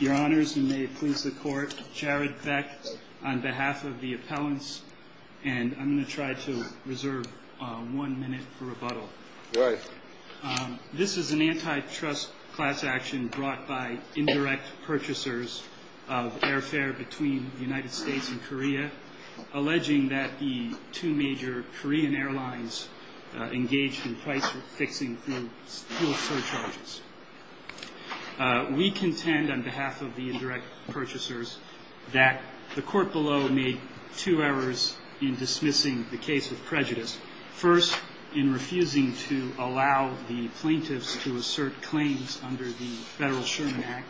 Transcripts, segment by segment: Your Honors, you may please the court. Jared Beck, on behalf of the appellants, and I'm going to try to reserve one minute for rebuttal. This is an antitrust class action brought by indirect purchasers of airfare between the United States and Korea, alleging that the two major Korean airlines engaged in price-fixing fuel surcharges. We contend, on behalf of the indirect purchasers, that the court below made two errors in dismissing the case with prejudice. First, in refusing to allow the plaintiffs to assert claims under the Federal Sherman Act,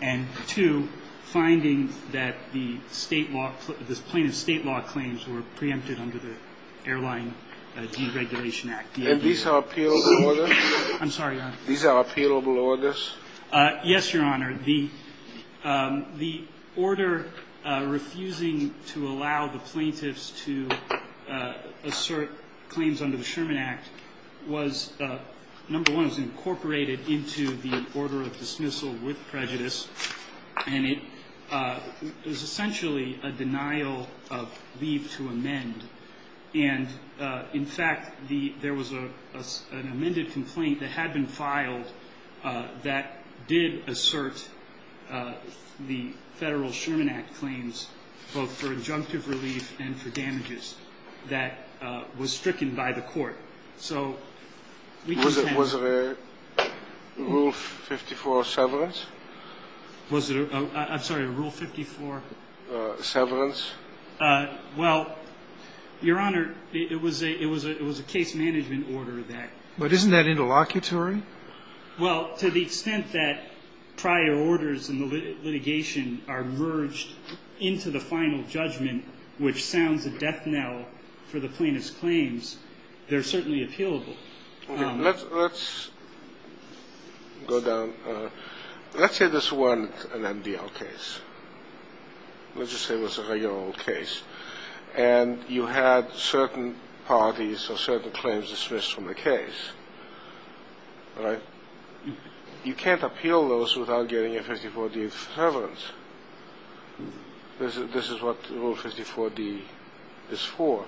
and two, finding that the plaintiff's state law claims were preempted under the Airline Deregulation Act. And these are appealable orders? I'm sorry, Your Honor. These are appealable orders? Yes, Your Honor. The order refusing to allow the plaintiffs to assert claims under the Sherman Act was, number one, was incorporated into the order of dismissal with prejudice, and it was essentially a denial of leave to amend. And, in fact, there was an amended complaint that had been filed that did assert the Federal Sherman Act claims, both for injunctive relief and for damages, that was stricken by the court. So we contend. Was it a Rule 54 severance? I'm sorry, a Rule 54? Severance. Well, Your Honor, it was a case-management order that ---- But isn't that interlocutory? Well, to the extent that prior orders in the litigation are merged into the final judgment, which sounds a death knell for the plaintiff's claims, they're certainly appealable. Okay. Let's go down. Let's say this weren't an MDL case. Let's just say it was a regular old case. And you had certain parties or certain claims dismissed from the case, right? You can't appeal those without getting a 54-D severance. This is what Rule 54-D is for.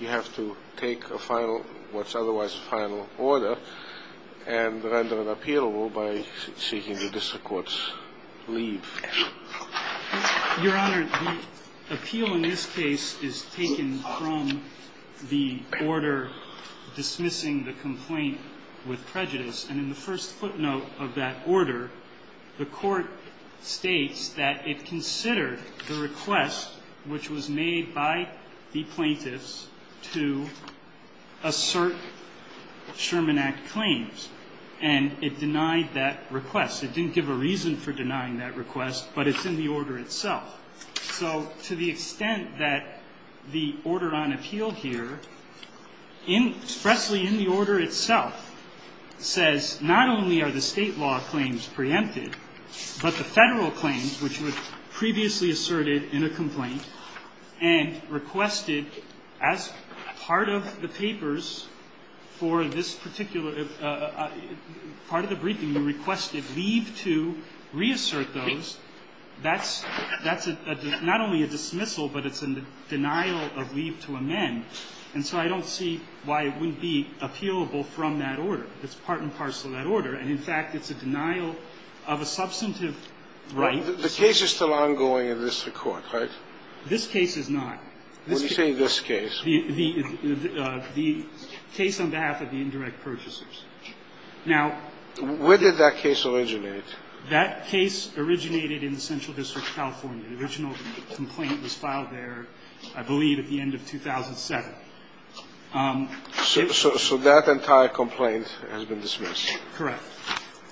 You have to take a final, what's otherwise a final order, and render it appealable by seeking the district court's leave. Your Honor, the appeal in this case is taken from the order dismissing the complaint with prejudice. And in the first footnote of that order, the court states that it considered the request which was made by the plaintiffs to assert Sherman Act claims. And it denied that request. It didn't give a reason for denying that request, but it's in the order itself. So to the extent that the order on appeal here, expressly in the order itself, says not only are the State law claims preempted, but the Federal claims, which were previously asserted in a complaint and requested as part of the papers for this particular part of the briefing, you requested leave to reassert those, that's not only a dismissal, but it's a denial of leave to amend. And so I don't see why it wouldn't be appealable from that order. It's part and parcel of that order. And in fact, it's a denial of a substantive right. The case is still ongoing in this Court, right? This case is not. When you say this case. The case on behalf of the indirect purchasers. Now, where did that case originate? That case originated in the Central District of California. The original complaint was filed there, I believe, at the end of 2007. So that entire complaint has been dismissed. Correct.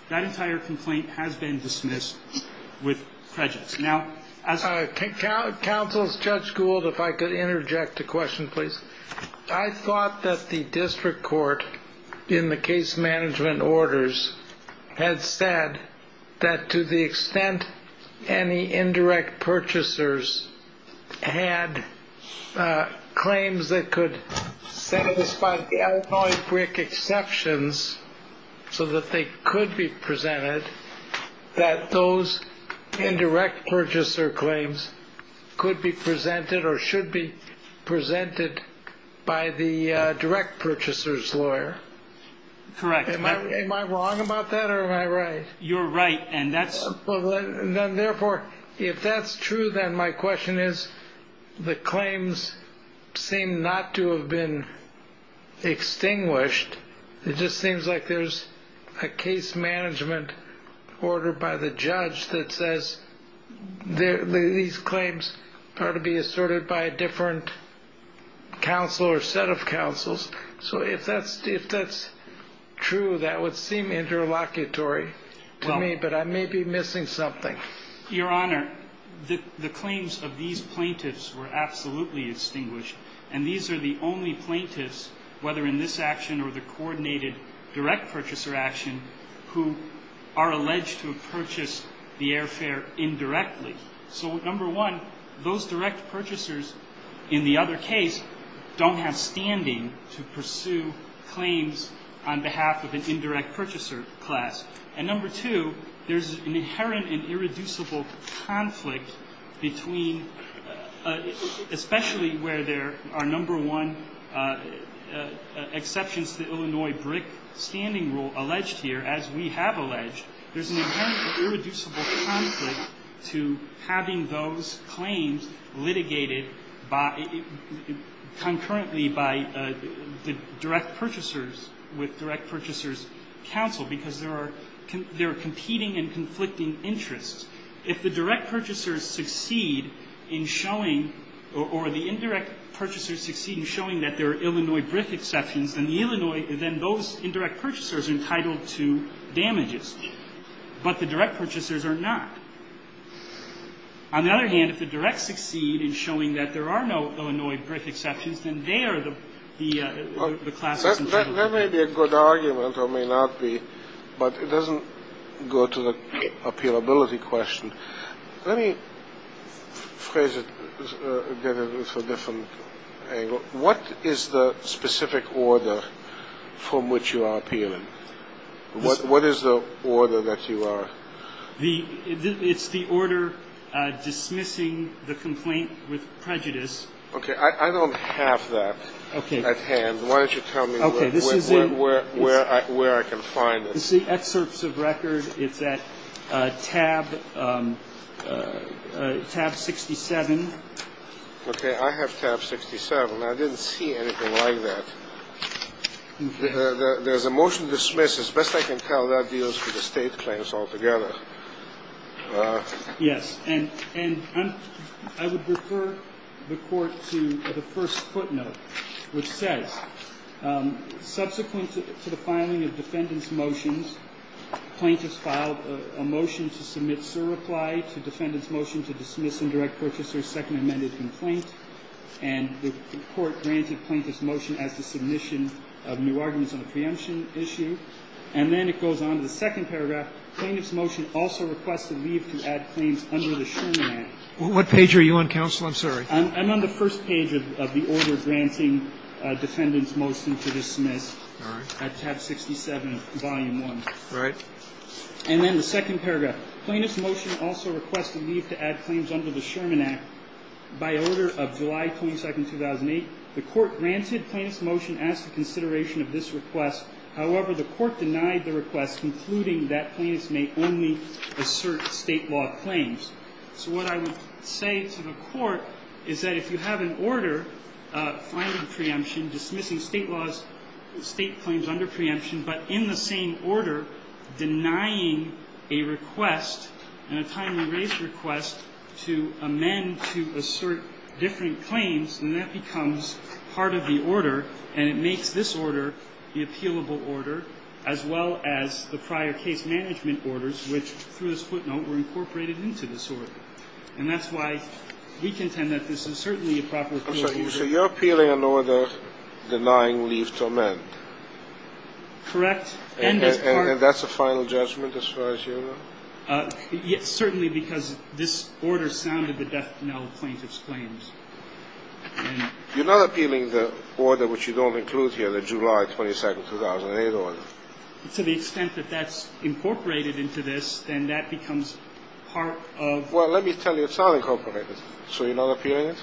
That entire complaint has been dismissed with prejudice. Counsel, Judge Gould, if I could interject a question, please. I thought that the District Court, in the case management orders, had said that to the extent any indirect purchasers had claims that could satisfy the Illinois district exceptions so that they could be presented, that those indirect purchaser claims could be presented or should be presented by the direct purchaser's lawyer. Correct. Am I wrong about that or am I right? You're right. And that's. Well, then, therefore, if that's true, then my question is the claims seem not to have been extinguished. It just seems like there's a case management order by the judge that says these claims are to be asserted by a different counsel or set of counsels. So if that's true, that would seem interlocutory to me, but I may be missing something. Your Honor, the claims of these plaintiffs were absolutely extinguished, and these are the only plaintiffs, whether in this action or the coordinated direct purchaser action, who are alleged to have purchased the airfare indirectly. So, number one, those direct purchasers in the other case don't have standing to pursue claims on behalf of an indirect purchaser class. And number two, there's an inherent and irreducible conflict between, especially where there are number one exceptions to the Illinois BRIC standing rule alleged here, as we have alleged, there's an inherent and irreducible conflict to having those claims litigated concurrently by the direct purchasers with direct purchasers counsel, because there are competing and conflicting interests. If the direct purchasers succeed in showing, or the indirect purchasers succeed in showing that there are Illinois BRIC exceptions, then the Illinois, then those indirect purchasers are entitled to damages, but the direct purchasers are not. On the other hand, if the directs succeed in showing that there are no Illinois BRIC exceptions, then they are the classes in favor. That may be a good argument or may not be, but it doesn't go to the appealability question. Let me phrase it with a different angle. What is the specific order from which you are appealing? What is the order that you are? It's the order dismissing the complaint with prejudice. Okay. I don't have that at hand. Why don't you tell me where I can find it? This is the excerpts of record. It's at tab 67. Okay. I have tab 67. I didn't see anything like that. There's a motion to dismiss. As best I can tell, that deals with the State claims altogether. Yes. And I would refer the Court to the first footnote, which says, subsequent to the filing of defendant's motions, plaintiffs filed a motion to submit surreply to defendant's motion to dismiss indirect purchasers' second amended complaint. And the Court granted plaintiff's motion as the submission of new arguments on the preemption issue. And then it goes on to the second paragraph. Plaintiff's motion also requests a leave to add claims under the Sherman Act. What page are you on, counsel? I'm sorry. I'm on the first page of the order granting defendant's motion to dismiss at tab 67, volume 1. All right. And then the second paragraph. Plaintiff's motion also requests a leave to add claims under the Sherman Act. By order of July 22, 2008, the Court granted plaintiff's motion as the consideration of this request. However, the Court denied the request, concluding that plaintiffs may only assert State law claims. So what I would say to the Court is that if you have an order finding preemption, dismissing State laws, State claims under preemption, but in the same order denying a request and a timely raise request to amend to assert different claims, then that becomes part of the order. And it makes this order the appealable order, as well as the prior case management orders, which, through this footnote, were incorporated into this order. And that's why we contend that this is certainly a proper appealable order. So you're appealing an order denying leave to amend? Correct. And that's a final judgment as far as you know? Certainly, because this order sounded the death penalty of plaintiff's claims. You're not appealing the order which you don't include here, the July 22, 2008 order? To the extent that that's incorporated into this, then that becomes part of the order. Well, let me tell you, it's not incorporated. So you're not appealing it?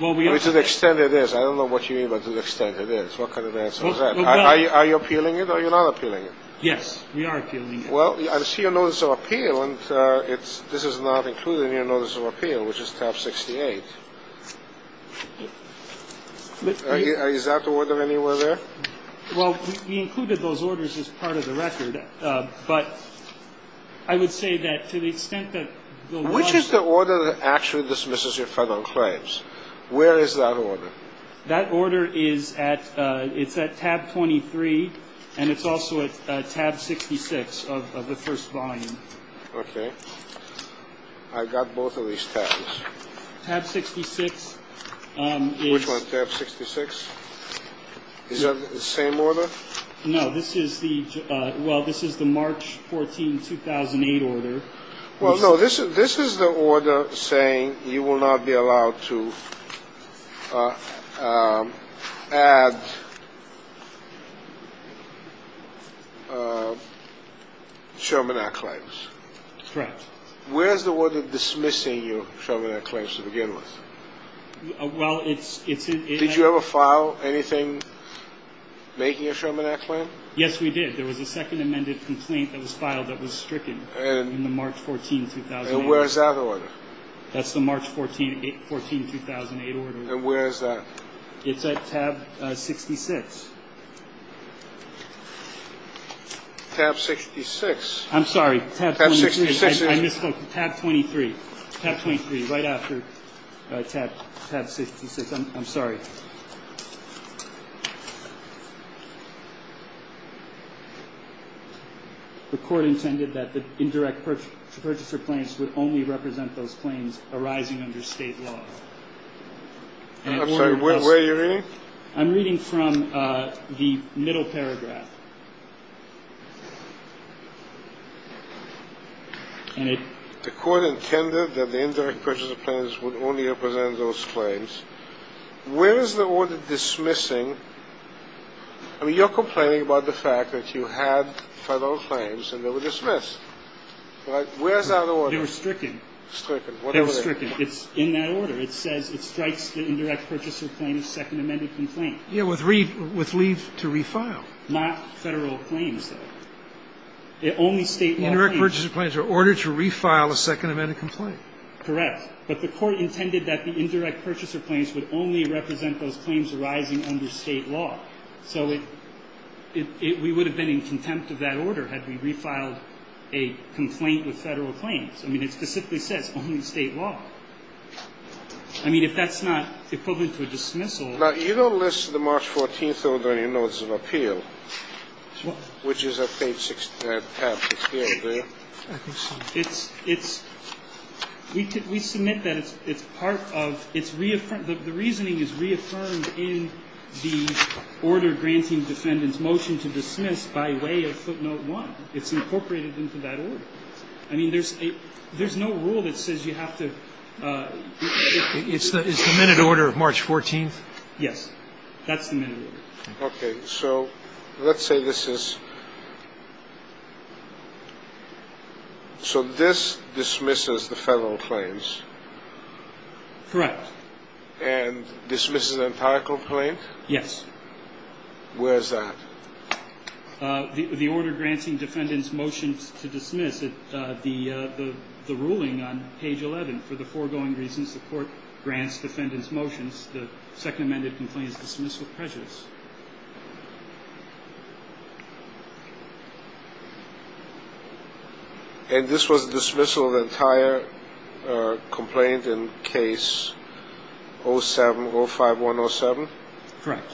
Well, we are appealing it. To the extent it is. I don't know what you mean by to the extent it is. What kind of answer is that? Are you appealing it or are you not appealing it? Yes, we are appealing it. Well, I see your notice of appeal, and this is not included in your notice of appeal, which is tab 68. Is that the order anywhere there? Well, we included those orders as part of the record. But I would say that to the extent that the law is there. Which is the order that actually dismisses your federal claims? Where is that order? That order is at tab 23, and it's also at tab 66 of the first volume. Okay. I got both of these tabs. Tab 66 is. Which one, tab 66? Is that the same order? No, this is the, well, this is the March 14, 2008 order. Well, no, this is the order saying you will not be allowed to add Sherman Act claims. Correct. Where is the order dismissing your Sherman Act claims to begin with? Well, it's in. Did you ever file anything making a Sherman Act claim? Yes, we did. There was a second amended complaint that was filed that was stricken in the March 14, 2008. And where is that order? That's the March 14, 2008 order. And where is that? It's at tab 66. Tab 66. I'm sorry. Tab 63. I misspoke. Tab 23. Tab 23, right after tab 66. I'm sorry. The court intended that the indirect purchaser claims would only represent those claims arising under state law. I'm sorry. Where are you reading? I'm reading from the middle paragraph. The court intended that the indirect purchaser claims would only represent those claims. Where is the order dismissing? I mean, you're complaining about the fact that you had Federal claims and they were dismissed. Where is that order? They were stricken. They were stricken. It's in that order. It says it strikes the indirect purchaser claim as second amended complaint. Yeah, with leave to refile. Not Federal claims, though. Only state law claims. The indirect purchaser claims are ordered to refile a second amended complaint. Correct. But the court intended that the indirect purchaser claims would only represent those claims arising under state law. So we would have been in contempt of that order had we refiled a complaint with Federal claims. I mean, it specifically says only state law. I mean, if that's not equivalent to a dismissal. Now, you don't list the March 14th order in your notice of appeal, which is at page 6, that tab that's here, there. I can see that. It's we submit that it's part of, it's reaffirmed, the reasoning is reaffirmed in the order granting defendants motion to dismiss by way of footnote 1. It's incorporated into that order. I mean, there's a there's no rule that says you have to. It's the minute order of March 14th. Yes, that's the minute. Okay. So let's say this is. So this dismisses the Federal claims. Correct. And dismisses an empirical claim. Yes. Where's that? The order granting defendants motions to dismiss the ruling on page 11. For the foregoing reasons, the court grants defendants motions. The second amended complaint is dismissed with prejudice. And this was dismissal of the entire complaint in case 07-05107? Correct.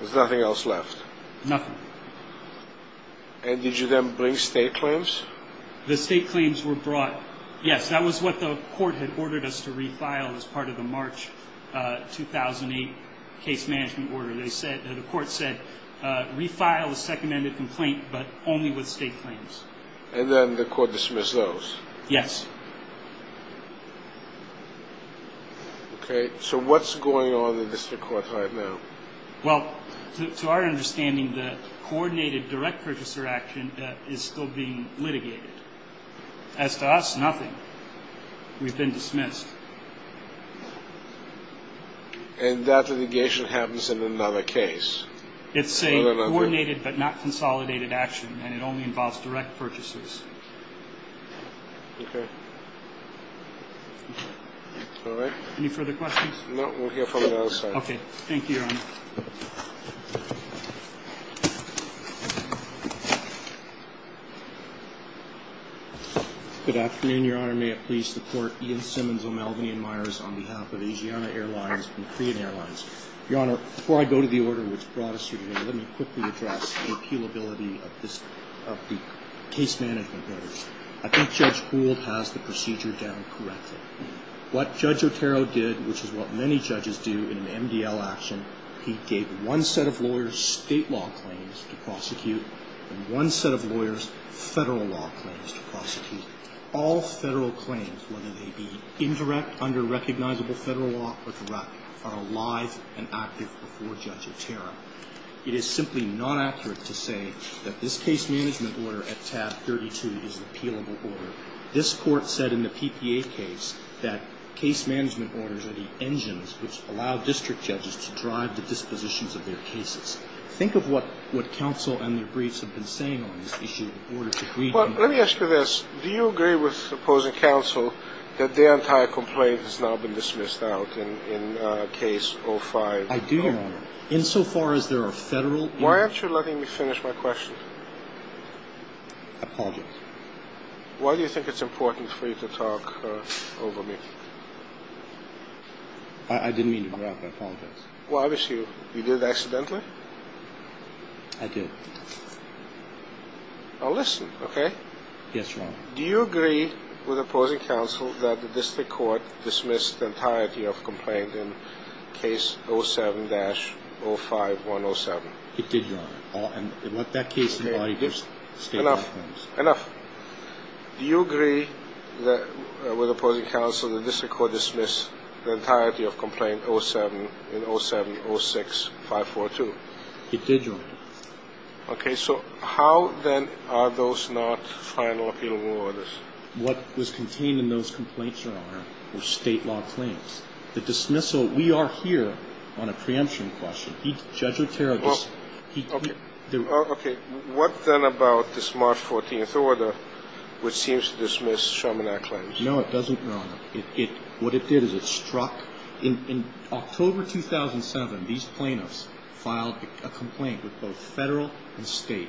There's nothing else left. Nothing. And did you then bring state claims? The state claims were brought. Yes, that was what the court had ordered us to refile as part of the March 2008 case management order. They said, the court said, refile the second amended complaint, but only with state claims. And then the court dismissed those? Yes. Okay. So what's going on in the district court right now? Well, to our understanding, the coordinated direct purchaser action is still being litigated. As to us, nothing. We've been dismissed. And that litigation happens in another case? It's a coordinated but not consolidated action, and it only involves direct purchasers. Okay. All right. Any further questions? No, we'll hear from the other side. Okay. Thank you, Your Honor. Good afternoon, Your Honor. May it please the court, Ian Simmons of Melvinian Meyers on behalf of Asiana Airlines and Korean Airlines. Your Honor, before I go to the order which brought us here today, let me quickly address the appealability of the case management orders. I think Judge Gould has the procedure down correctly. What Judge Otero did, which is what many judges do in an MDL action, he gave one set of lawyers state law claims to prosecute and one set of lawyers federal law claims to prosecute. All federal claims, whether they be indirect under recognizable federal law or direct, are alive and active before Judge Otero. It is simply not accurate to say that this case management order at tab 32 is an appealable order. This court said in the PPA case that case management orders are the engines which allow district judges to drive the dispositions of their cases. Think of what counsel and their briefs have been saying on this issue. Let me ask you this. Do you agree with opposing counsel that their entire complaint has now been dismissed out in case 05? I do. In so far as there are federal— Why aren't you letting me finish my question? I apologize. Why do you think it's important for you to talk over me? I didn't mean to interrupt. I apologize. Well, obviously you did accidentally. I did. Now listen, okay? Yes, Your Honor. Do you agree with opposing counsel that the district court dismissed the entirety of complaint in case 07-05107? It did, Your Honor. And what that case— Enough. Enough. Do you agree with opposing counsel that the district court dismissed the entirety of complaint 07 in 07-06-542? It did, Your Honor. Okay. So how, then, are those not final appealable orders? What was contained in those complaints, Your Honor, were state law claims. The dismissal—we are here on a preemption question. Judge Otero just— Okay. What, then, about this March 14th order, which seems to dismiss Chaminade claims? No, it doesn't, Your Honor. What it did is it struck— In October 2007, these plaintiffs filed a complaint with both federal and state.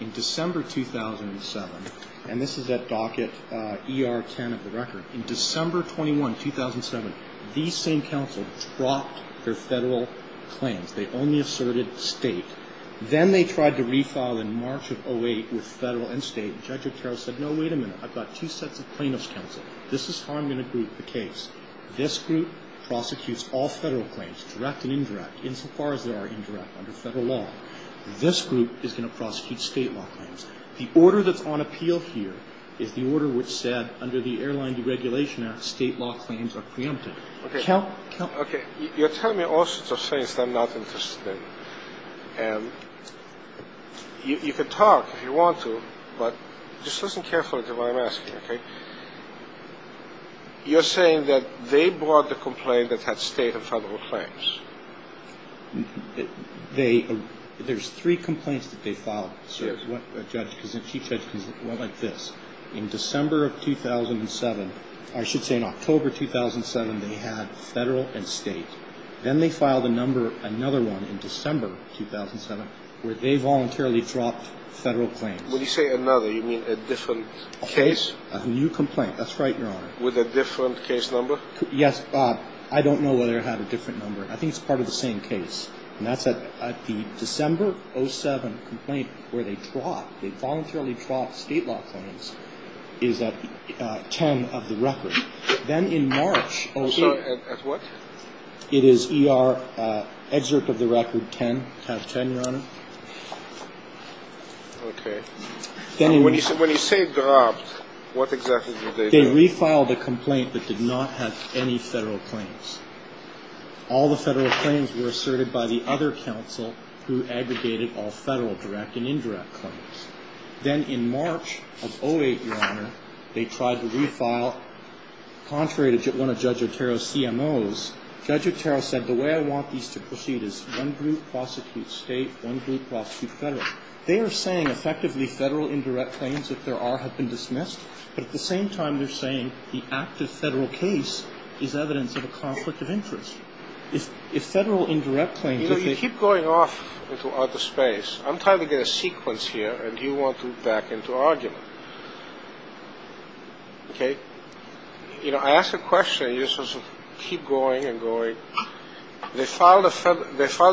In December 2007—and this is at docket ER-10 of the record—in December 21, 2007, these same counsel dropped their federal claims. They only asserted state. Then they tried to refile in March of 08 with federal and state. Judge Otero said, no, wait a minute. I've got two sets of plaintiff's counsel. This is how I'm going to group the case. This group prosecutes all federal claims, direct and indirect, insofar as they are indirect under federal law. This group is going to prosecute state law claims. The order that's on appeal here is the order which said, under the Airline Deregulation Act, state law claims are preempted. Okay. Count— Okay. You're telling me all sorts of things that I'm not interested in. And you can talk if you want to, but just listen carefully to what I'm asking, okay? You're saying that they brought the complaint that had state and federal claims. They—there's three complaints that they filed, sir. Yes. A judge—a chief judge can look like this. In December of 2007—I should say in October 2007, they had federal and state. Then they filed another one in December 2007, where they voluntarily dropped federal claims. When you say another, you mean a different case? A new complaint. That's right, Your Honor. With a different case number? Yes. I don't know whether it had a different number. I think it's part of the same case. And that's at the December 2007 complaint, where they dropped—they voluntarily dropped state law claims, is at 10 of the record. Then in March— Sorry. At what? It is E.R.—excerpt of the record, 10, tab 10, Your Honor. Okay. When you say dropped, what exactly did they do? They refiled a complaint that did not have any federal claims. All the federal claims were asserted by the other counsel who aggregated all federal direct and indirect claims. Then in March of 2008, Your Honor, they tried to refile—contrary to one of Judge Otero's CMOs, Judge Otero said, the way I want these to proceed is one group prosecute state, one group prosecute federal. They are saying effectively federal indirect claims that there are have been dismissed, but at the same time they're saying the active federal case is evidence of a conflict of interest. If federal indirect claims— You know, you keep going off into outer space. I'm trying to get a sequence here, and you want to back into argument. Okay? You know, I ask a question, and you just sort of keep going and going. They filed a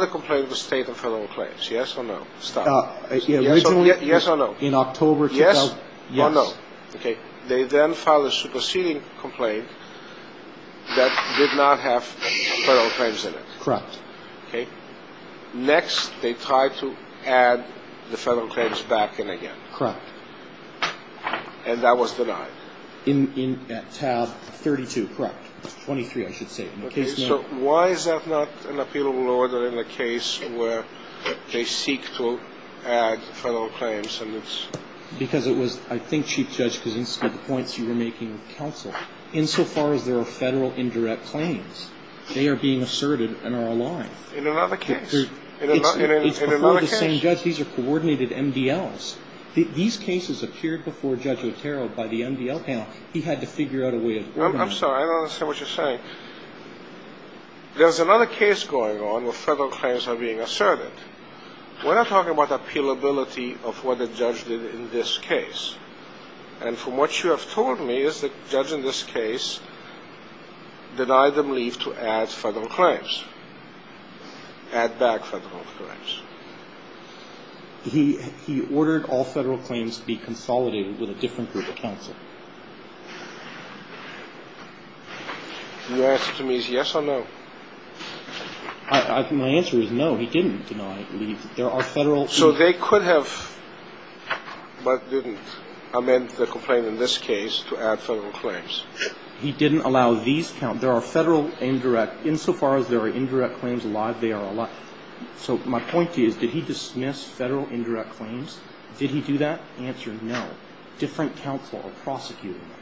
complaint with the state of federal claims, yes or no? Stop. Yes or no? In October— Yes or no? Yes. Okay. They then filed a superseding complaint that did not have federal claims in it. Correct. Okay. Next, they tried to add the federal claims back in again. Correct. And that was denied. In tab 32, correct. 23, I should say. Okay, so why is that not an appealable order in the case where they seek to add federal claims? Because it was, I think, Chief Judge Kuczynski, the points you were making with counsel. Insofar as there are federal indirect claims, they are being asserted and are a lie. In another case? In another case? It's before the same judge. These are coordinated MDLs. These cases appeared before Judge Otero by the MDL panel. He had to figure out a way of— I'm sorry. I don't understand what you're saying. There's another case going on where federal claims are being asserted. We're not talking about appealability of what the judge did in this case. And from what you have told me is the judge in this case denied them leave to add federal claims. Add back federal claims. He ordered all federal claims to be consolidated with a different group of counsel. And your answer to me is yes or no? My answer is no. He didn't deny leave. There are federal— So they could have but didn't amend the complaint in this case to add federal claims. He didn't allow these—there are federal indirect—insofar as there are indirect claims, they are a lie. So my point to you is did he dismiss federal indirect claims? Did he do that? Answer, no. Different counsel are prosecuting them.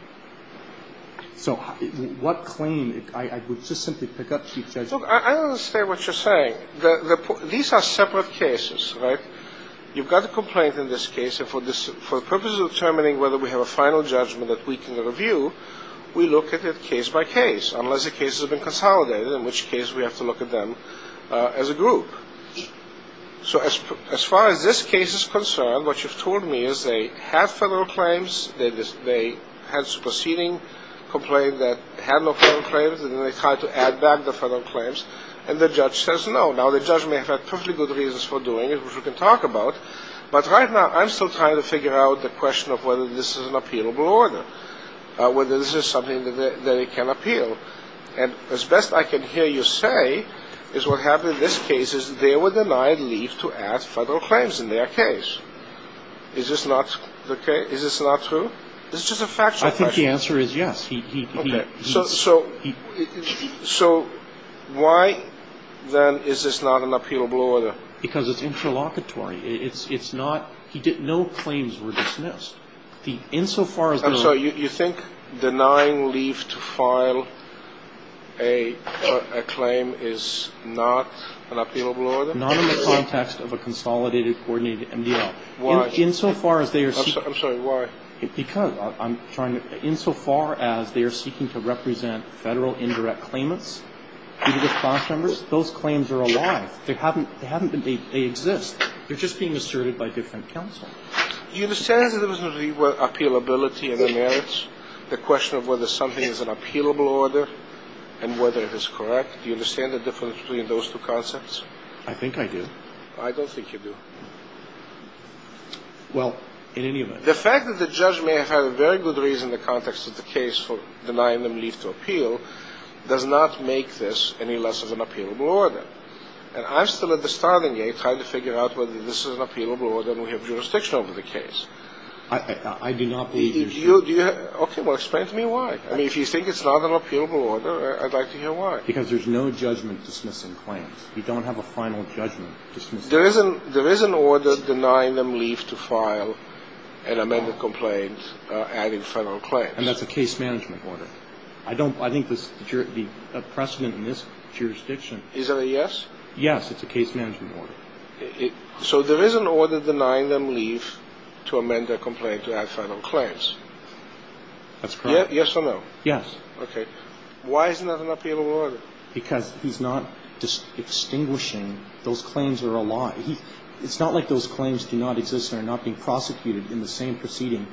So what claim—I would just simply pick up, Chief Judge. Look, I understand what you're saying. These are separate cases, right? You've got a complaint in this case, and for the purposes of determining whether we have a final judgment that we can review, we look at it case by case, unless the case has been consolidated, in which case we have to look at them as a group. So as far as this case is concerned, what you've told me is they have federal claims, they had a superseding complaint that had no federal claims, and then they tried to add back the federal claims, and the judge says no. Now the judge may have had perfectly good reasons for doing it, which we can talk about, but right now I'm still trying to figure out the question of whether this is an appealable order. Whether this is something that it can appeal. And as best I can hear you say is what happened in this case is they were denied leave to add federal claims in their case. Is this not true? It's just a factual question. I think the answer is yes. Okay. So why, then, is this not an appealable order? Because it's interlocutory. It's not — no claims were dismissed. I'm sorry. You think denying leave to file a claim is not an appealable order? Not in the context of a consolidated coordinated MDL. Why? Insofar as they are seeking — I'm sorry. Why? Because I'm trying to — insofar as they are seeking to represent federal indirect claimants due to the class numbers, those claims are alive. They haven't been — they exist. They're just being asserted by different counsel. Do you understand the difference between appealability and the merits, the question of whether something is an appealable order and whether it is correct? Do you understand the difference between those two concepts? I think I do. I don't think you do. Well, in any event — The fact that the judge may have had a very good reason in the context of the case for denying them leave to appeal does not make this any less of an appealable order. And I'm still at the starting gate trying to figure out whether this is an appealable order and we have jurisdiction over the case. I do not believe you're — Okay, well, explain to me why. I mean, if you think it's not an appealable order, I'd like to hear why. Because there's no judgment dismissing claims. You don't have a final judgment dismissing claims. There is an order denying them leave to file an amended complaint adding federal claims. And that's a case management order. I don't — I think the precedent in this jurisdiction — Is that a yes? Yes, it's a case management order. So there is an order denying them leave to amend their complaint to add federal claims. That's correct. Yes or no? Yes. Okay. Why isn't that an appealable order? Because he's not just extinguishing those claims that are a lie. It's not like those claims do not exist and are not being prosecuted in the same proceeding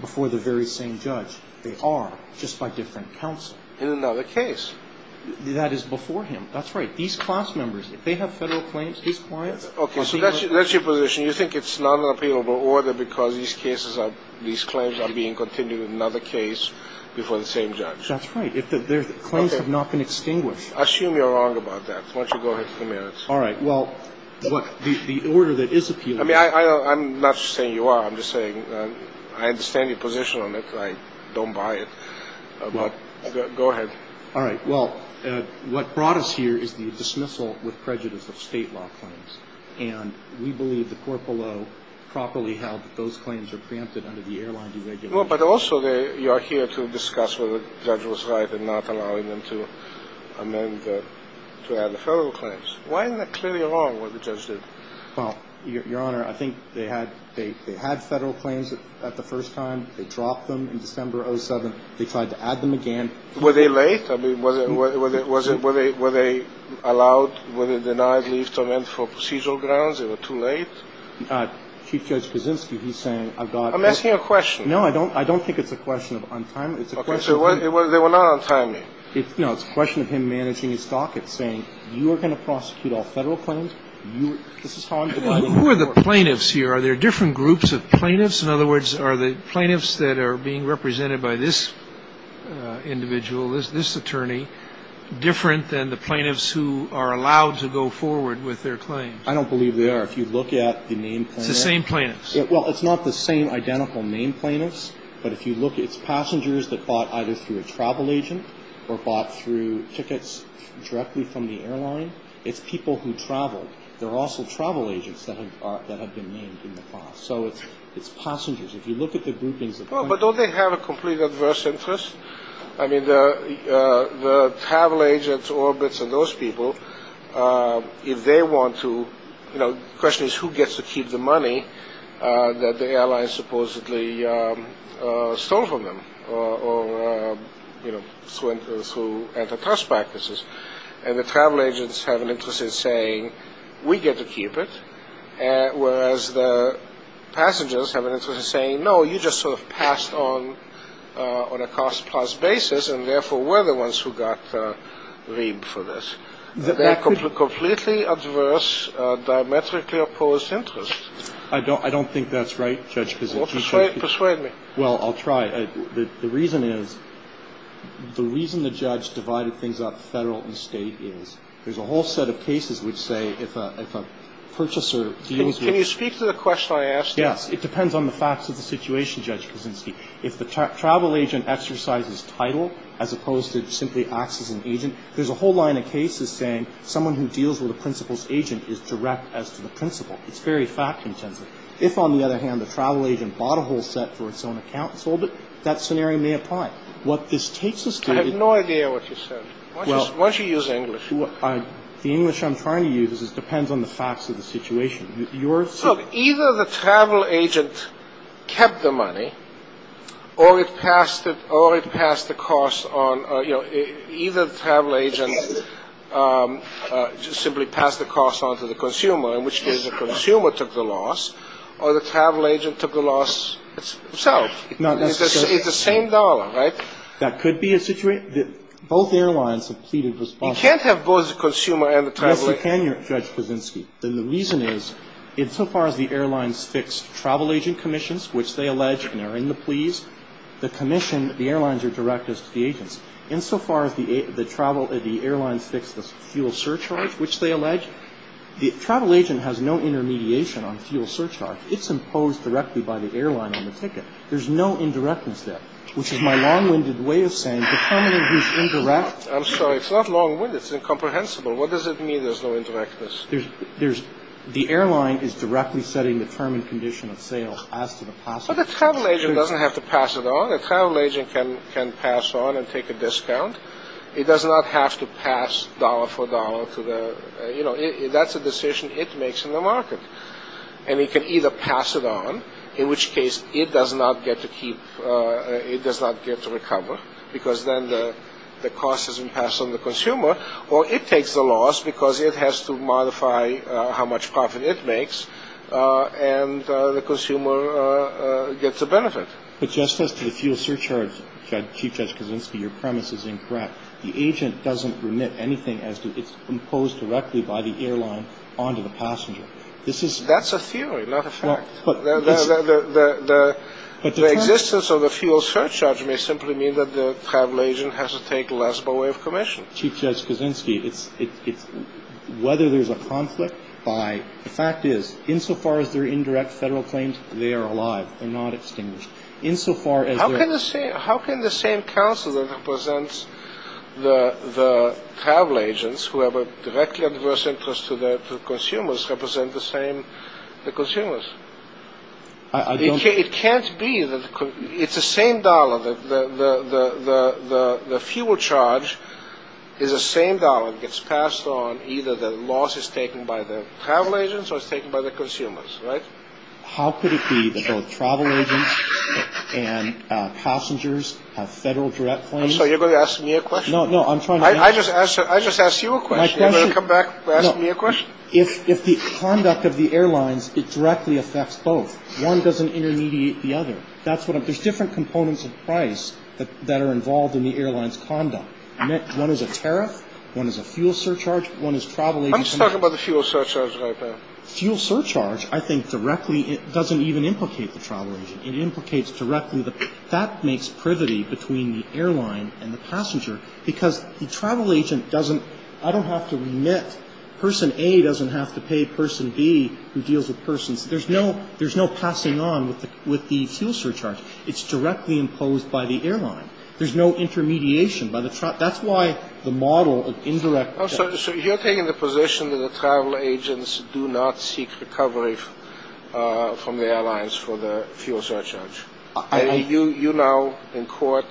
before the very same judge. They are, just by different counsel. In another case. That is before him. That's right. These class members, if they have federal claims, these clients — Okay. So that's your position. You think it's not an appealable order because these cases are — these claims are being continued in another case before the same judge. That's right. If their claims have not been extinguished. Assume you're wrong about that. Why don't you go ahead for a minute. All right. Well, the order that is appealable — I mean, I'm not saying you are. I'm just saying I understand your position on it. I don't buy it. But go ahead. All right. Well, what brought us here is the dismissal with prejudice of State law claims. And we believe the court below properly held that those claims are preempted under the airline deregulation. Well, but also you are here to discuss whether the judge was right in not allowing them to amend the — to add the federal claims. Why isn't that clearly wrong, what the judge did? Well, Your Honor, I think they had — they had federal claims at the first time. They dropped them in December of 2007. They tried to add them again. Were they late? I mean, was it — were they — were they allowed — were they denied leave to amend for procedural grounds? They were too late? Chief Judge Kaczynski, he's saying I've got — I'm asking a question. No, I don't — I don't think it's a question of untimely. It's a question of — They were not untimely. No, it's a question of him managing his stock. It's saying you are going to prosecute all federal claims. This is how I'm dividing the court. Who are the plaintiffs here? Are there different groups of plaintiffs? In other words, are the plaintiffs that are being represented by this individual, this attorney, different than the plaintiffs who are allowed to go forward with their claims? I don't believe they are. If you look at the name — It's the same plaintiffs. Well, it's not the same identical name plaintiffs. But if you look, it's passengers that bought either through a travel agent or bought through tickets directly from the airline. It's people who traveled. There are also travel agents that have been named in the class. So it's passengers. If you look at the groupings — Well, but don't they have a complete adverse interest? I mean, the travel agents, orbits, and those people, if they want to — You know, the question is who gets to keep the money that the airline supposedly stole from them or, you know, through antitrust practices. And the travel agents have an interest in saying, we get to keep it. Whereas the passengers have an interest in saying, no, you just sort of passed on a cost-plus basis and therefore were the ones who got reaped for this. They're completely adverse, diametrically opposed interests. I don't think that's right, Judge, because — Well, persuade me. Well, I'll try. The reason is — the reason the judge divided things up Federal and State is there's a whole set of cases which say if a purchaser deals with — Can you speak to the question I asked? Yes. It depends on the facts of the situation, Judge Kuczynski. If the travel agent exercises title as opposed to simply acts as an agent, there's a whole line of cases saying someone who deals with a principal's agent is direct as to the principal. It's very fact-intensive. If, on the other hand, the travel agent bought a whole set for its own account and sold it, that scenario may apply. What this takes us to — I have no idea what you said. Why don't you use English? The English I'm trying to use is it depends on the facts of the situation. Your — Look, either the travel agent kept the money or it passed the cost on — you know, either the travel agent simply passed the cost on to the consumer, in which case the consumer took the loss, or the travel agent took the loss himself. It's the same dollar, right? That could be a situation — both airlines have pleaded responsibility. You can't have both the consumer and the travel agent — Yes, you can, Judge Kuczynski. And the reason is, insofar as the airlines fix travel agent commissions, which they allege are in the pleas, the commission — the airlines are direct as to the agents. Insofar as the airlines fix the fuel surcharge, which they allege, the travel agent has no intermediation on fuel surcharge. It's imposed directly by the airline on the ticket. There's no indirectness there, which is my long-winded way of saying the company who's indirect — I'm sorry, it's not long-winded. It's incomprehensible. What does it mean there's no indirectness? There's — the airline is directly setting the term and condition of sale as to the passenger. But the travel agent doesn't have to pass it on. The travel agent can pass on and take a discount. It does not have to pass dollar for dollar to the — you know, that's a decision it makes in the market. And it can either pass it on, in which case it does not get to keep — it does not get to recover, because then the cost has been passed on to the consumer, or it takes the loss because it has to modify how much profit it makes and the consumer gets a benefit. But just as to the fuel surcharge, Chief Judge Kaczynski, your premise is incorrect. The agent doesn't remit anything as to — it's imposed directly by the airline onto the passenger. This is — That's a theory, not a fact. The existence of the fuel surcharge may simply mean that the travel agent has to take less by way of commission. Chief Judge Kaczynski, it's — whether there's a conflict by — the fact is, insofar as they're indirect federal claims, they are alive. They're not extinguished. Insofar as they're — How can the same counsel that represents the travel agents, who have a directly adverse interest to the consumers, represent the same — the consumers? I don't — It can't be that — it's the same dollar. The fuel charge is the same dollar. It gets passed on. Either the loss is taken by the travel agents or it's taken by the consumers, right? How could it be that both travel agents and passengers have federal direct claims? I'm sorry, you're going to ask me a question? No, no, I'm trying to — I just asked you a question. You want to come back and ask me a question? No. If the conduct of the airlines, it directly affects both. One doesn't intermediate the other. That's what I'm — there's different components of price that are involved in the airline's conduct. One is a tariff. One is a fuel surcharge. One is travel agents — I'm just talking about the fuel surcharge right now. Fuel surcharge, I think, directly — it doesn't even implicate the travel agent. It implicates directly the — that makes privity between the airline and the passenger because the travel agent doesn't — I don't have to remit — person A doesn't have to pay person B who deals with persons. There's no passing on with the fuel surcharge. It's directly imposed by the airline. There's no intermediation by the — that's why the model of indirect — Oh, so you're taking the position that the travel agents do not seek recovery from the airlines for the fuel surcharge. You now, in court,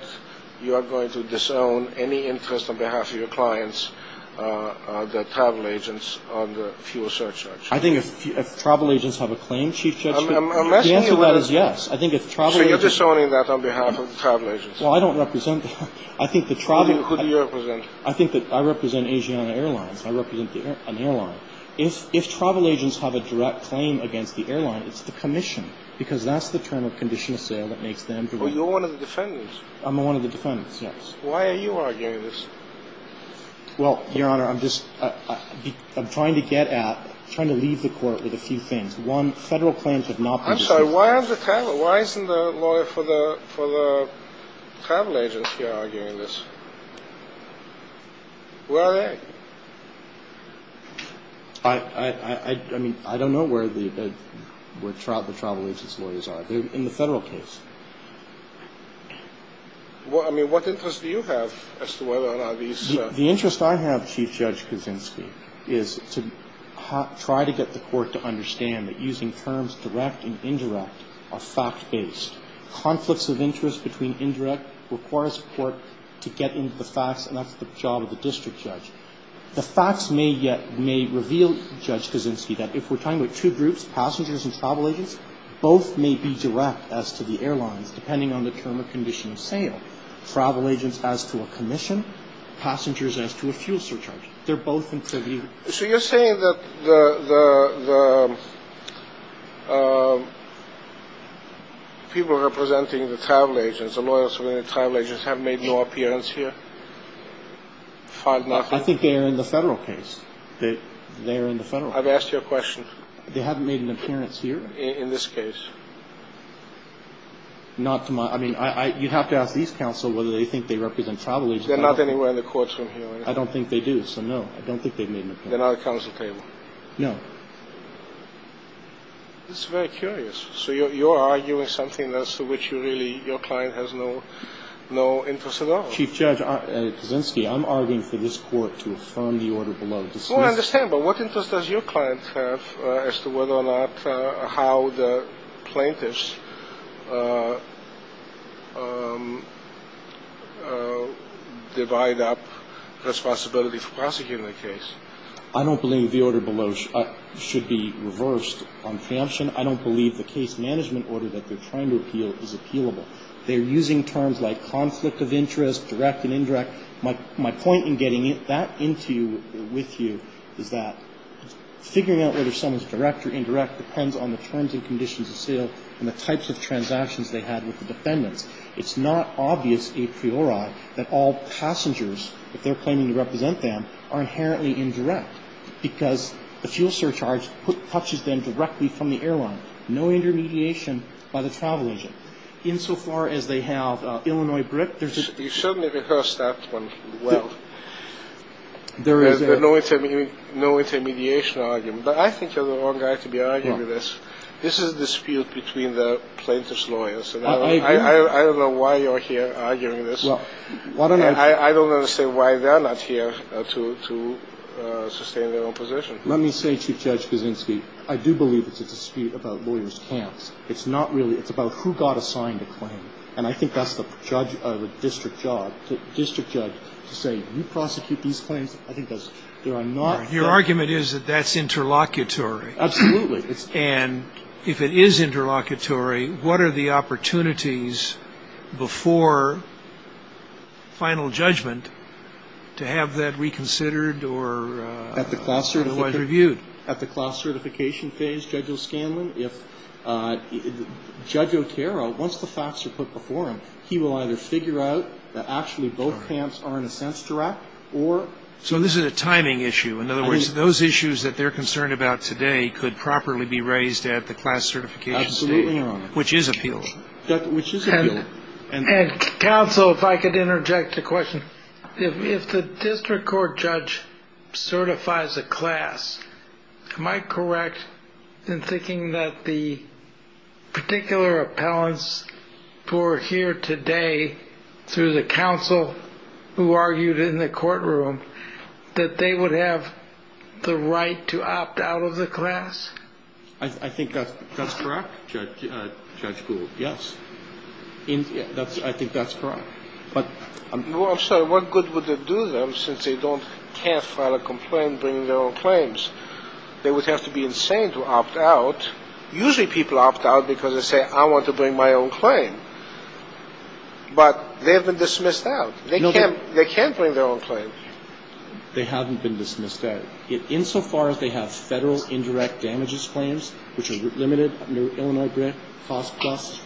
you are going to disown any interest on behalf of your clients, the travel agents, on the fuel surcharge. I think if travel agents have a claim, Chief Judge — I'm asking you whether — The answer to that is yes. I think if travel agents — So you're disowning that on behalf of the travel agents. Well, I don't represent — I think the travel — Who do you represent? I think that I represent Asiana Airlines. I represent an airline. If travel agents have a direct claim against the airline, it's the commission because that's the term of conditional sale that makes them — Oh, you're one of the defendants. I'm one of the defendants, yes. Why are you arguing this? Well, Your Honor, I'm just — I'm trying to get at — trying to leave the court with a few things. One, federal claims have not been — I'm sorry, why aren't the travel — why isn't the lawyer for the travel agents here arguing this? Where are they? I mean, I don't know where the travel agents' lawyers are. They're in the federal case. I mean, what interest do you have as to whether or not these — The interest I have, Chief Judge Kuczynski, is to try to get the court to understand that using terms direct and indirect are fact-based. Conflicts of interest between indirect requires the court to get into the facts, and that's the job of the district judge. The facts may reveal, Judge Kuczynski, that if we're talking about two groups, passengers and travel agents, both may be direct as to the airlines, depending on the term of conditional sale. Travel agents as to a commission, passengers as to a fuel surcharge. They're both in preview. So you're saying that the people representing the travel agents, the lawyers for the travel agents, have made no appearance here, filed nothing? I think they are in the federal case. They are in the federal case. I've asked you a question. They haven't made an appearance here? In this case. Not to my — I mean, you'd have to ask these counsel whether they think they represent travel agents. They're not anywhere in the courtroom here. I don't think they do, so no. I don't think they've made an appearance. They're not at the counsel table? No. This is very curious. So you're arguing something that's to which you really — your client has no interest at all? Chief Judge Kaczynski, I'm arguing for this Court to affirm the order below. Well, I understand, but what interest does your client have as to whether or not how the plaintiffs divide up responsibility for prosecuting the case? I don't believe the order below should be reversed on preemption. I don't believe the case management order that they're trying to appeal is appealable. They're using terms like conflict of interest, direct and indirect. My point in getting that into you, with you, is that figuring out whether someone's direct or indirect depends on the terms and conditions of sale and the types of transactions they had with the defendants. It's not obvious a priori that all passengers, if they're claiming to represent them, are inherently indirect because the fuel surcharge touches them directly from the airline. No intermediation by the travel agent. Insofar as they have Illinois Brick, there's a — You certainly rehearsed that one well. There is a — No intermediation argument. But I think you're the wrong guy to be arguing this. This is a dispute between the plaintiffs' lawyers. I don't know why you're here arguing this. Well, why don't I — And I don't understand why they're not here to sustain their own position. Let me say, Chief Judge Kaczynski, I do believe it's a dispute about lawyers' camps. It's not really. It's about who got assigned a claim. And I think that's the district judge to say, you prosecute these claims. I think that's — Your argument is that that's interlocutory. Absolutely. And if it is interlocutory, what are the opportunities before final judgment to have that reconsidered or reviewed? At the class certification phase, Judge O'Scanlan, if — Judge Otero, once the facts are put before him, he will either figure out that actually both camps are in a sense direct or — So this is a timing issue. I mean — In other words, those issues that they're concerned about today could properly be raised at the class certification stage. Absolutely, Your Honor. Which is appeal. Which is appeal. Counsel, if I could interject a question. If the district court judge certifies a class, am I correct in thinking that the particular appellants who are here today, through the counsel who argued in the courtroom, that they would have the right to opt out of the class? I think that's correct, Judge Gould, yes. I think that's correct. But — Well, I'm sorry. What good would it do them since they can't file a complaint bringing their own claims? They would have to be insane to opt out. Usually people opt out because they say, I want to bring my own claim. But they have been dismissed out. They can't bring their own claim. They haven't been dismissed out. Insofar as they have federal indirect damages claims, which are limited, Illinois grant costs,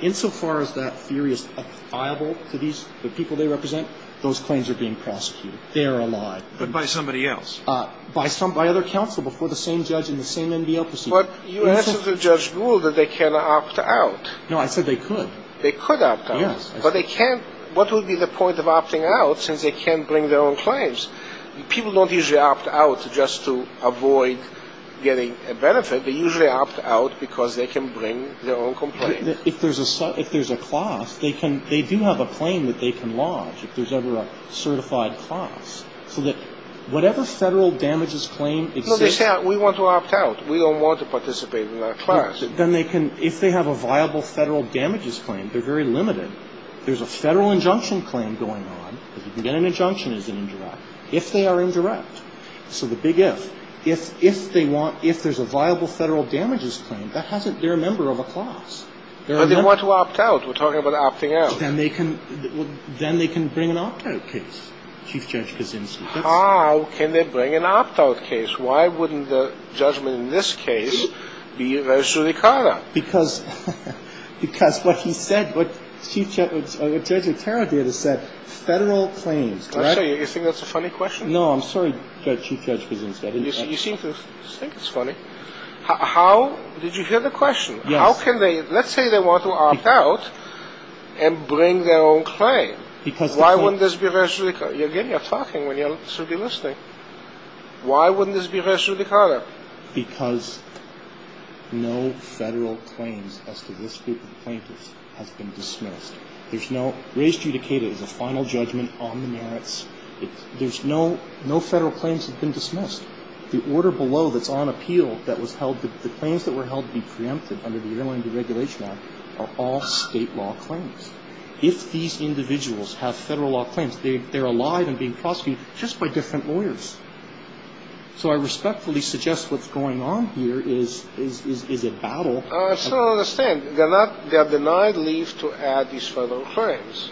insofar as that theory is viable to the people they represent, those claims are being prosecuted. They are a lie. But by somebody else. By other counsel before the same judge in the same NBL proceeding. But you answered to Judge Gould that they can opt out. No, I said they could. They could opt out. Yes. But they can't — what would be the point of opting out since they can't bring their own claims? People don't usually opt out just to avoid getting a benefit. They usually opt out because they can bring their own complaint. If there's a — if there's a class, they can — they do have a claim that they can lodge if there's ever a certified class. So that whatever federal damages claim exists — No, they say, we want to opt out. We don't want to participate in that class. Then they can — if they have a viable federal damages claim, they're very limited. There's a federal injunction claim going on. If you can get an injunction, it's an indirect. If they are indirect. So the big if. If they want — if there's a viable federal damages claim, that hasn't — they're a member of a class. I didn't want to opt out. We're talking about opting out. Then they can — then they can bring an opt-out case, Chief Judge Kaczynski. How can they bring an opt-out case? Why wouldn't the judgment in this case be Rosary Carter? Because what he said, what Chief Judge — what Judge Otero did is said, federal claims. Do you think that's a funny question? No, I'm sorry, Chief Judge Kaczynski. You seem to think it's funny. How — did you hear the question? Yes. How can they — let's say they want to opt out and bring their own claim. Because the claim — Why wouldn't this be Rosary Carter? Again, you're talking when you should be listening. Why wouldn't this be Rosary Carter? Because no federal claims as to this group of plaintiffs has been dismissed. There's no — re-adjudicated is a final judgment on the merits. There's no — no federal claims have been dismissed. The order below that's on appeal that was held — the claims that were held to be preempted under the Airline Deregulation Act are all state law claims. If these individuals have federal law claims, they're alive and being prosecuted just by different lawyers. So I respectfully suggest what's going on here is a battle. I still don't understand. They're not — they're denied leave to add these federal claims.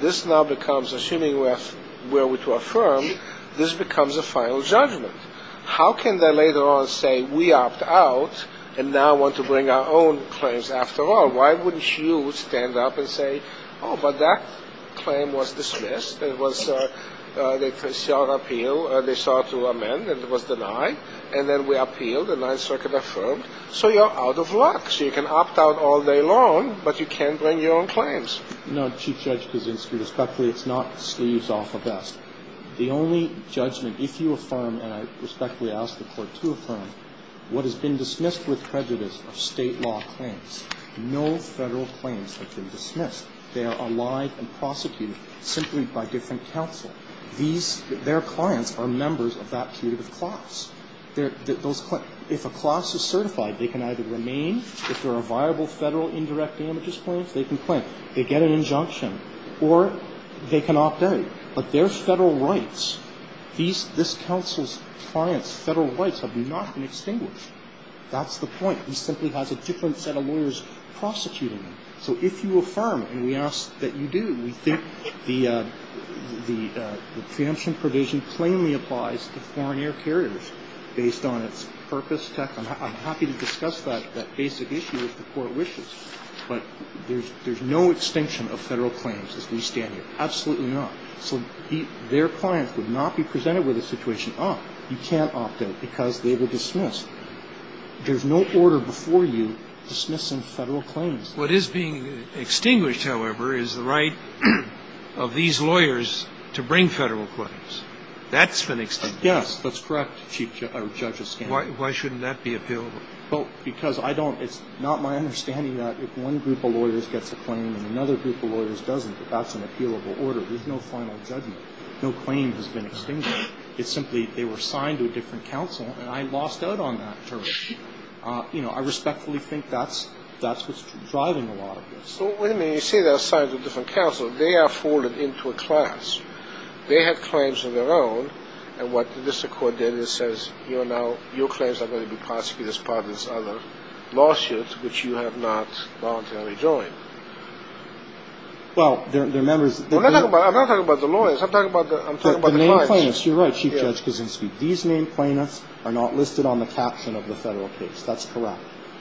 This now becomes, assuming we're to affirm, this becomes a final judgment. How can they later on say, we opt out and now want to bring our own claims after all? Why wouldn't you stand up and say, oh, but that claim was dismissed. It was — they sought appeal. They sought to amend, and it was denied. And then we appealed, and 9th Circuit affirmed. So you're out of luck. So you can opt out all day long, but you can't bring your own claims. No, Chief Judge Kaczynski, respectfully, it's not sleeves off a vest. The only judgment, if you affirm, and I respectfully ask the Court to affirm, what has been dismissed with prejudice are state law claims. No federal claims have been dismissed. They are allied and prosecuted simply by different counsel. These — their clients are members of that commutative class. Those — if a class is certified, they can either remain. If there are viable federal indirect damages claims, they can quit. They get an injunction, or they can opt out. But their federal rights, these — this counsel's clients' federal rights have not been extinguished. That's the point. He simply has a different set of lawyers prosecuting him. So if you affirm, and we ask that you do, we think the preemption provision plainly applies to foreign air carriers based on its purpose, text. I'm happy to discuss that basic issue if the Court wishes. But there's no extinction of federal claims as we stand here. Absolutely not. So their clients would not be presented with a situation, oh, you can't opt out because they were dismissed. There's no order before you dismissing federal claims. What is being extinguished, however, is the right of these lawyers to bring federal claims. That's been extinguished. Yes. That's correct, Chief — or Judge Escanio. Why shouldn't that be appealable? Well, because I don't — it's not my understanding that if one group of lawyers gets a claim and another group of lawyers doesn't, that that's an appealable order. There's no final judgment. No claim has been extinguished. It's simply they were assigned to a different counsel, and I lost out on that term. You know, I respectfully think that's what's driving a lot of this. So, wait a minute, you say they're assigned to a different counsel. They are folded into a class. They have claims of their own, and what the district court did is says, you know, your claims are going to be prosecuted as part of this other lawsuit, which you have not voluntarily joined. Well, their members — I'm not talking about the lawyers. I'm talking about the clients. The named plaintiffs. You're right, Chief Judge Kaczynski. These named plaintiffs are not listed on the caption of the federal case. That's correct.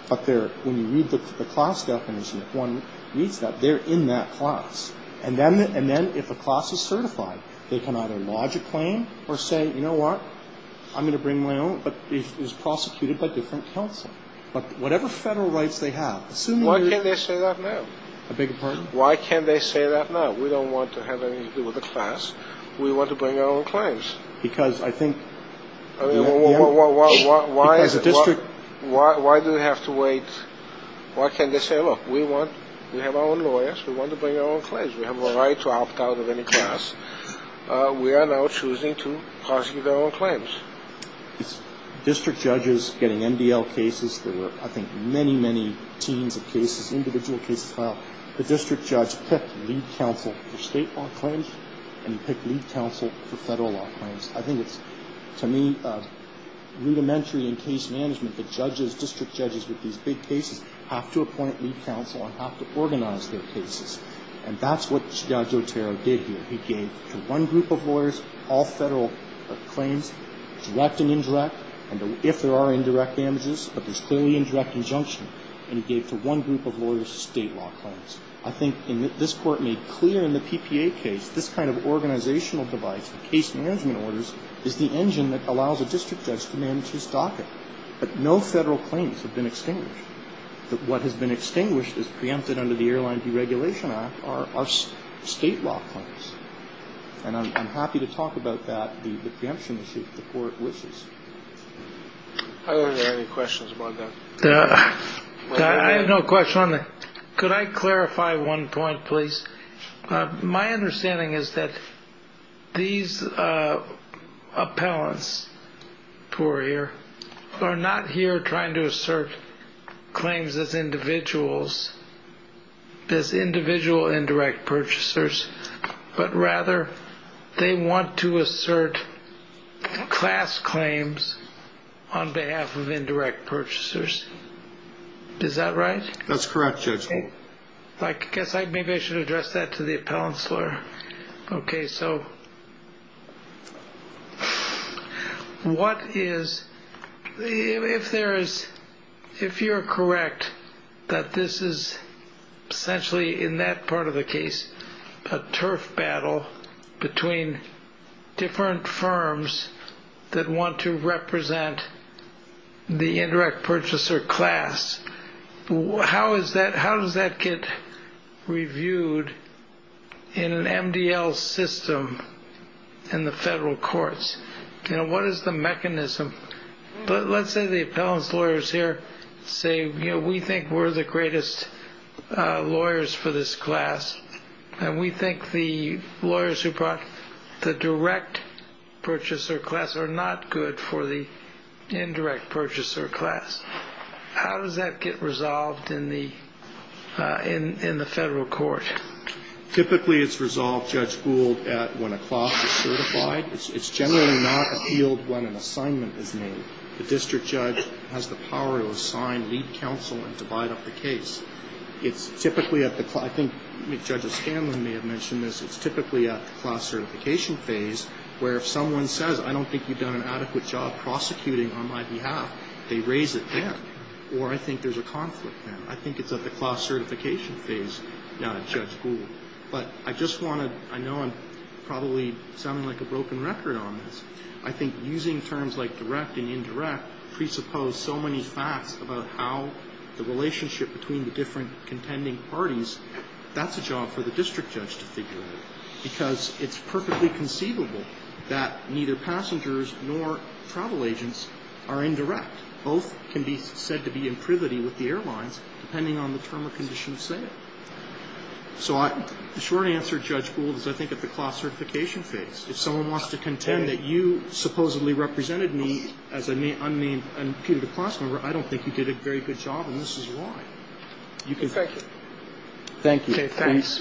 But they're — when you read the class definition, if one reads that, they're in that class. And then if a class is certified, they can either lodge a claim or say, you know what, I'm going to bring my own, but it's prosecuted by different counsel. But whatever federal rights they have, assuming you're — Why can't they say that now? I beg your pardon? Why can't they say that now? We don't want to have anything to do with the class. We want to bring our own claims. Because I think — Why do we have to wait? Why can't they say, look, we have our own lawyers. We want to bring our own claims. We have a right to opt out of any class. We are now choosing to prosecute our own claims. District judges getting MDL cases. There were, I think, many, many teams of cases, individual cases filed. The district judge picked lead counsel for state law claims, and he picked lead counsel for federal law claims. I think it's, to me, rudimentary in case management that judges, district judges with these big cases, have to appoint lead counsel and have to organize their cases. And that's what Judge Otero did here. He gave to one group of lawyers all federal claims, direct and indirect, and if there are indirect damages, but there's clearly indirect injunction. And he gave to one group of lawyers state law claims. I think, and this Court made clear in the PPA case, this kind of organizational device, the case management orders, is the engine that allows a district judge to manage his docket. But no federal claims have been extinguished. What has been extinguished is preempted under the Airline Deregulation Act are state law claims. And I'm happy to talk about that, the preemption issue, if the Court wishes. Are there any questions about that? I have no question on that. Could I clarify one point, please? My understanding is that these appellants who are here are not here trying to assert claims as individuals, as individual indirect purchasers, but rather they want to assert class claims on behalf of indirect purchasers. Is that right? That's correct, Judge. I guess maybe I should address that to the appellant's lawyer. Okay. So what is, if there is, if you're correct, that this is essentially in that part of the case, a turf battle between different firms that want to represent the indirect purchaser class. How is that, how does that get reviewed in an MDL system in the federal courts? You know, what is the mechanism? Let's say the appellant's lawyers here say, you know, we think we're the greatest lawyers for this class. And we think the lawyers who brought the direct purchaser class are not good for the indirect purchaser class. How does that get resolved in the federal court? Typically it's resolved, Judge Gould, at when a class is certified. It's generally not appealed when an assignment is made. The district judge has the power to assign, lead counsel, and divide up the case. It's typically at the, I think Judge O'Scanlan may have mentioned this, it's typically at the class certification phase where if someone says, I don't think you've done an adequate job prosecuting on my behalf, they raise it then. Or I think there's a conflict there. I think it's at the class certification phase, Judge Gould. But I just want to, I know I'm probably sounding like a broken record on this. I think using terms like direct and indirect presuppose so many facts about how the relationship between the different contending parties, that's a job for the district judge to figure out. Because it's perfectly conceivable that neither passengers nor travel agents are indirect. Both can be said to be in privity with the airlines depending on the term or condition of sale. So I, the short answer, Judge Gould, is I think at the class certification phase. If someone wants to contend that you supposedly represented me as an unnamed imputed class member, I don't think you did a very good job, and this is why. Thank you. Thank you. Okay. Thanks.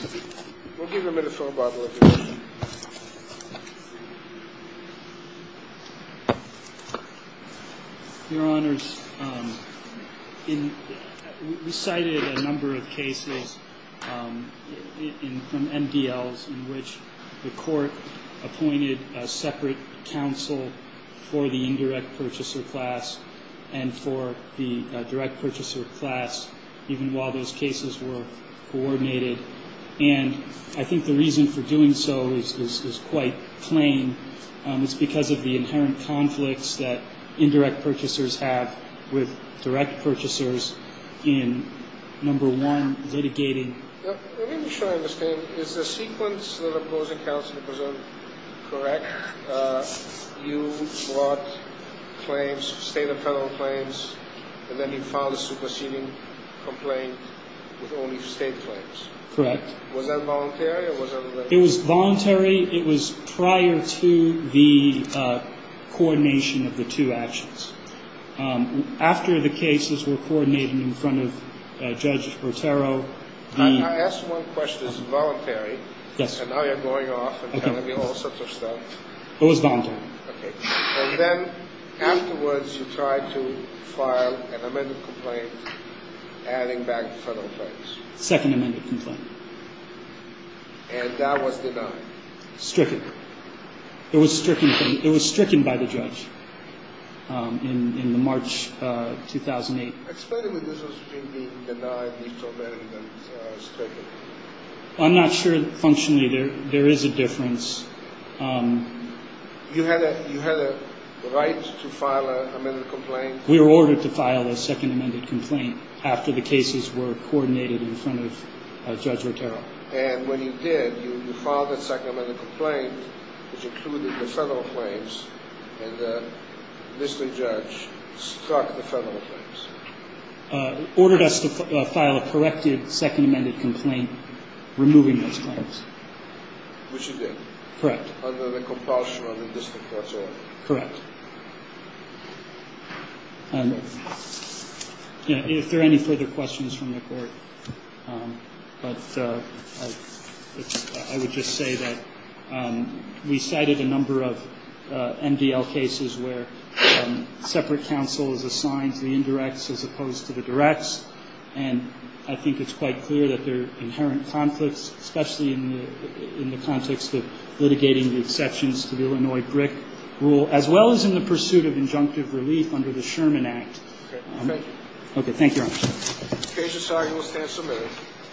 We'll give him a little bottle of water. Your Honors, we cited a number of cases from MDLs in which the court appointed a separate counsel for the indirect purchaser class and for the direct purchaser class even while those cases were coordinated. And I think the reason for doing so is quite plain. It's because of the inherent conflicts that indirect purchasers have with direct purchasers in, number one, litigating. Let me be sure I understand. Is the sequence of opposing counsel correct? You brought claims, state and federal claims, and then you filed a superseding complaint with only state claims. Correct. Was that voluntary? It was voluntary. It was prior to the coordination of the two actions. After the cases were coordinated in front of Judge Brotero. I asked one question. It's voluntary. Yes. And now you're going off and telling me all sorts of stuff. It was voluntary. Okay. And then afterwards you tried to file an amended complaint adding back federal claims. Second amended complaint. And that was denied. Stricken. It was stricken by the judge in March 2008. Explain to me this was being denied, deformed, and stricken. I'm not sure functionally there is a difference. You had a right to file an amended complaint? We were ordered to file a second amended complaint after the cases were coordinated in front of Judge Brotero. And when you did, you filed a second amended complaint, which included the federal claims, and the district judge struck the federal claims. Ordered us to file a corrected second amended complaint, removing those claims. Which you did. Correct. Under the compulsion of the district judge. Correct. If there are any further questions from the Court, but I would just say that we cited a number of MDL cases where separate counsel is assigned to the indirects as opposed to the directs, and I think it's quite clear that there are inherent conflicts, especially in the context of litigating the exceptions to the Illinois BRIC rule, as well as in the pursuit of injunctive relief under the Sherman Act. Okay. Thank you. Okay.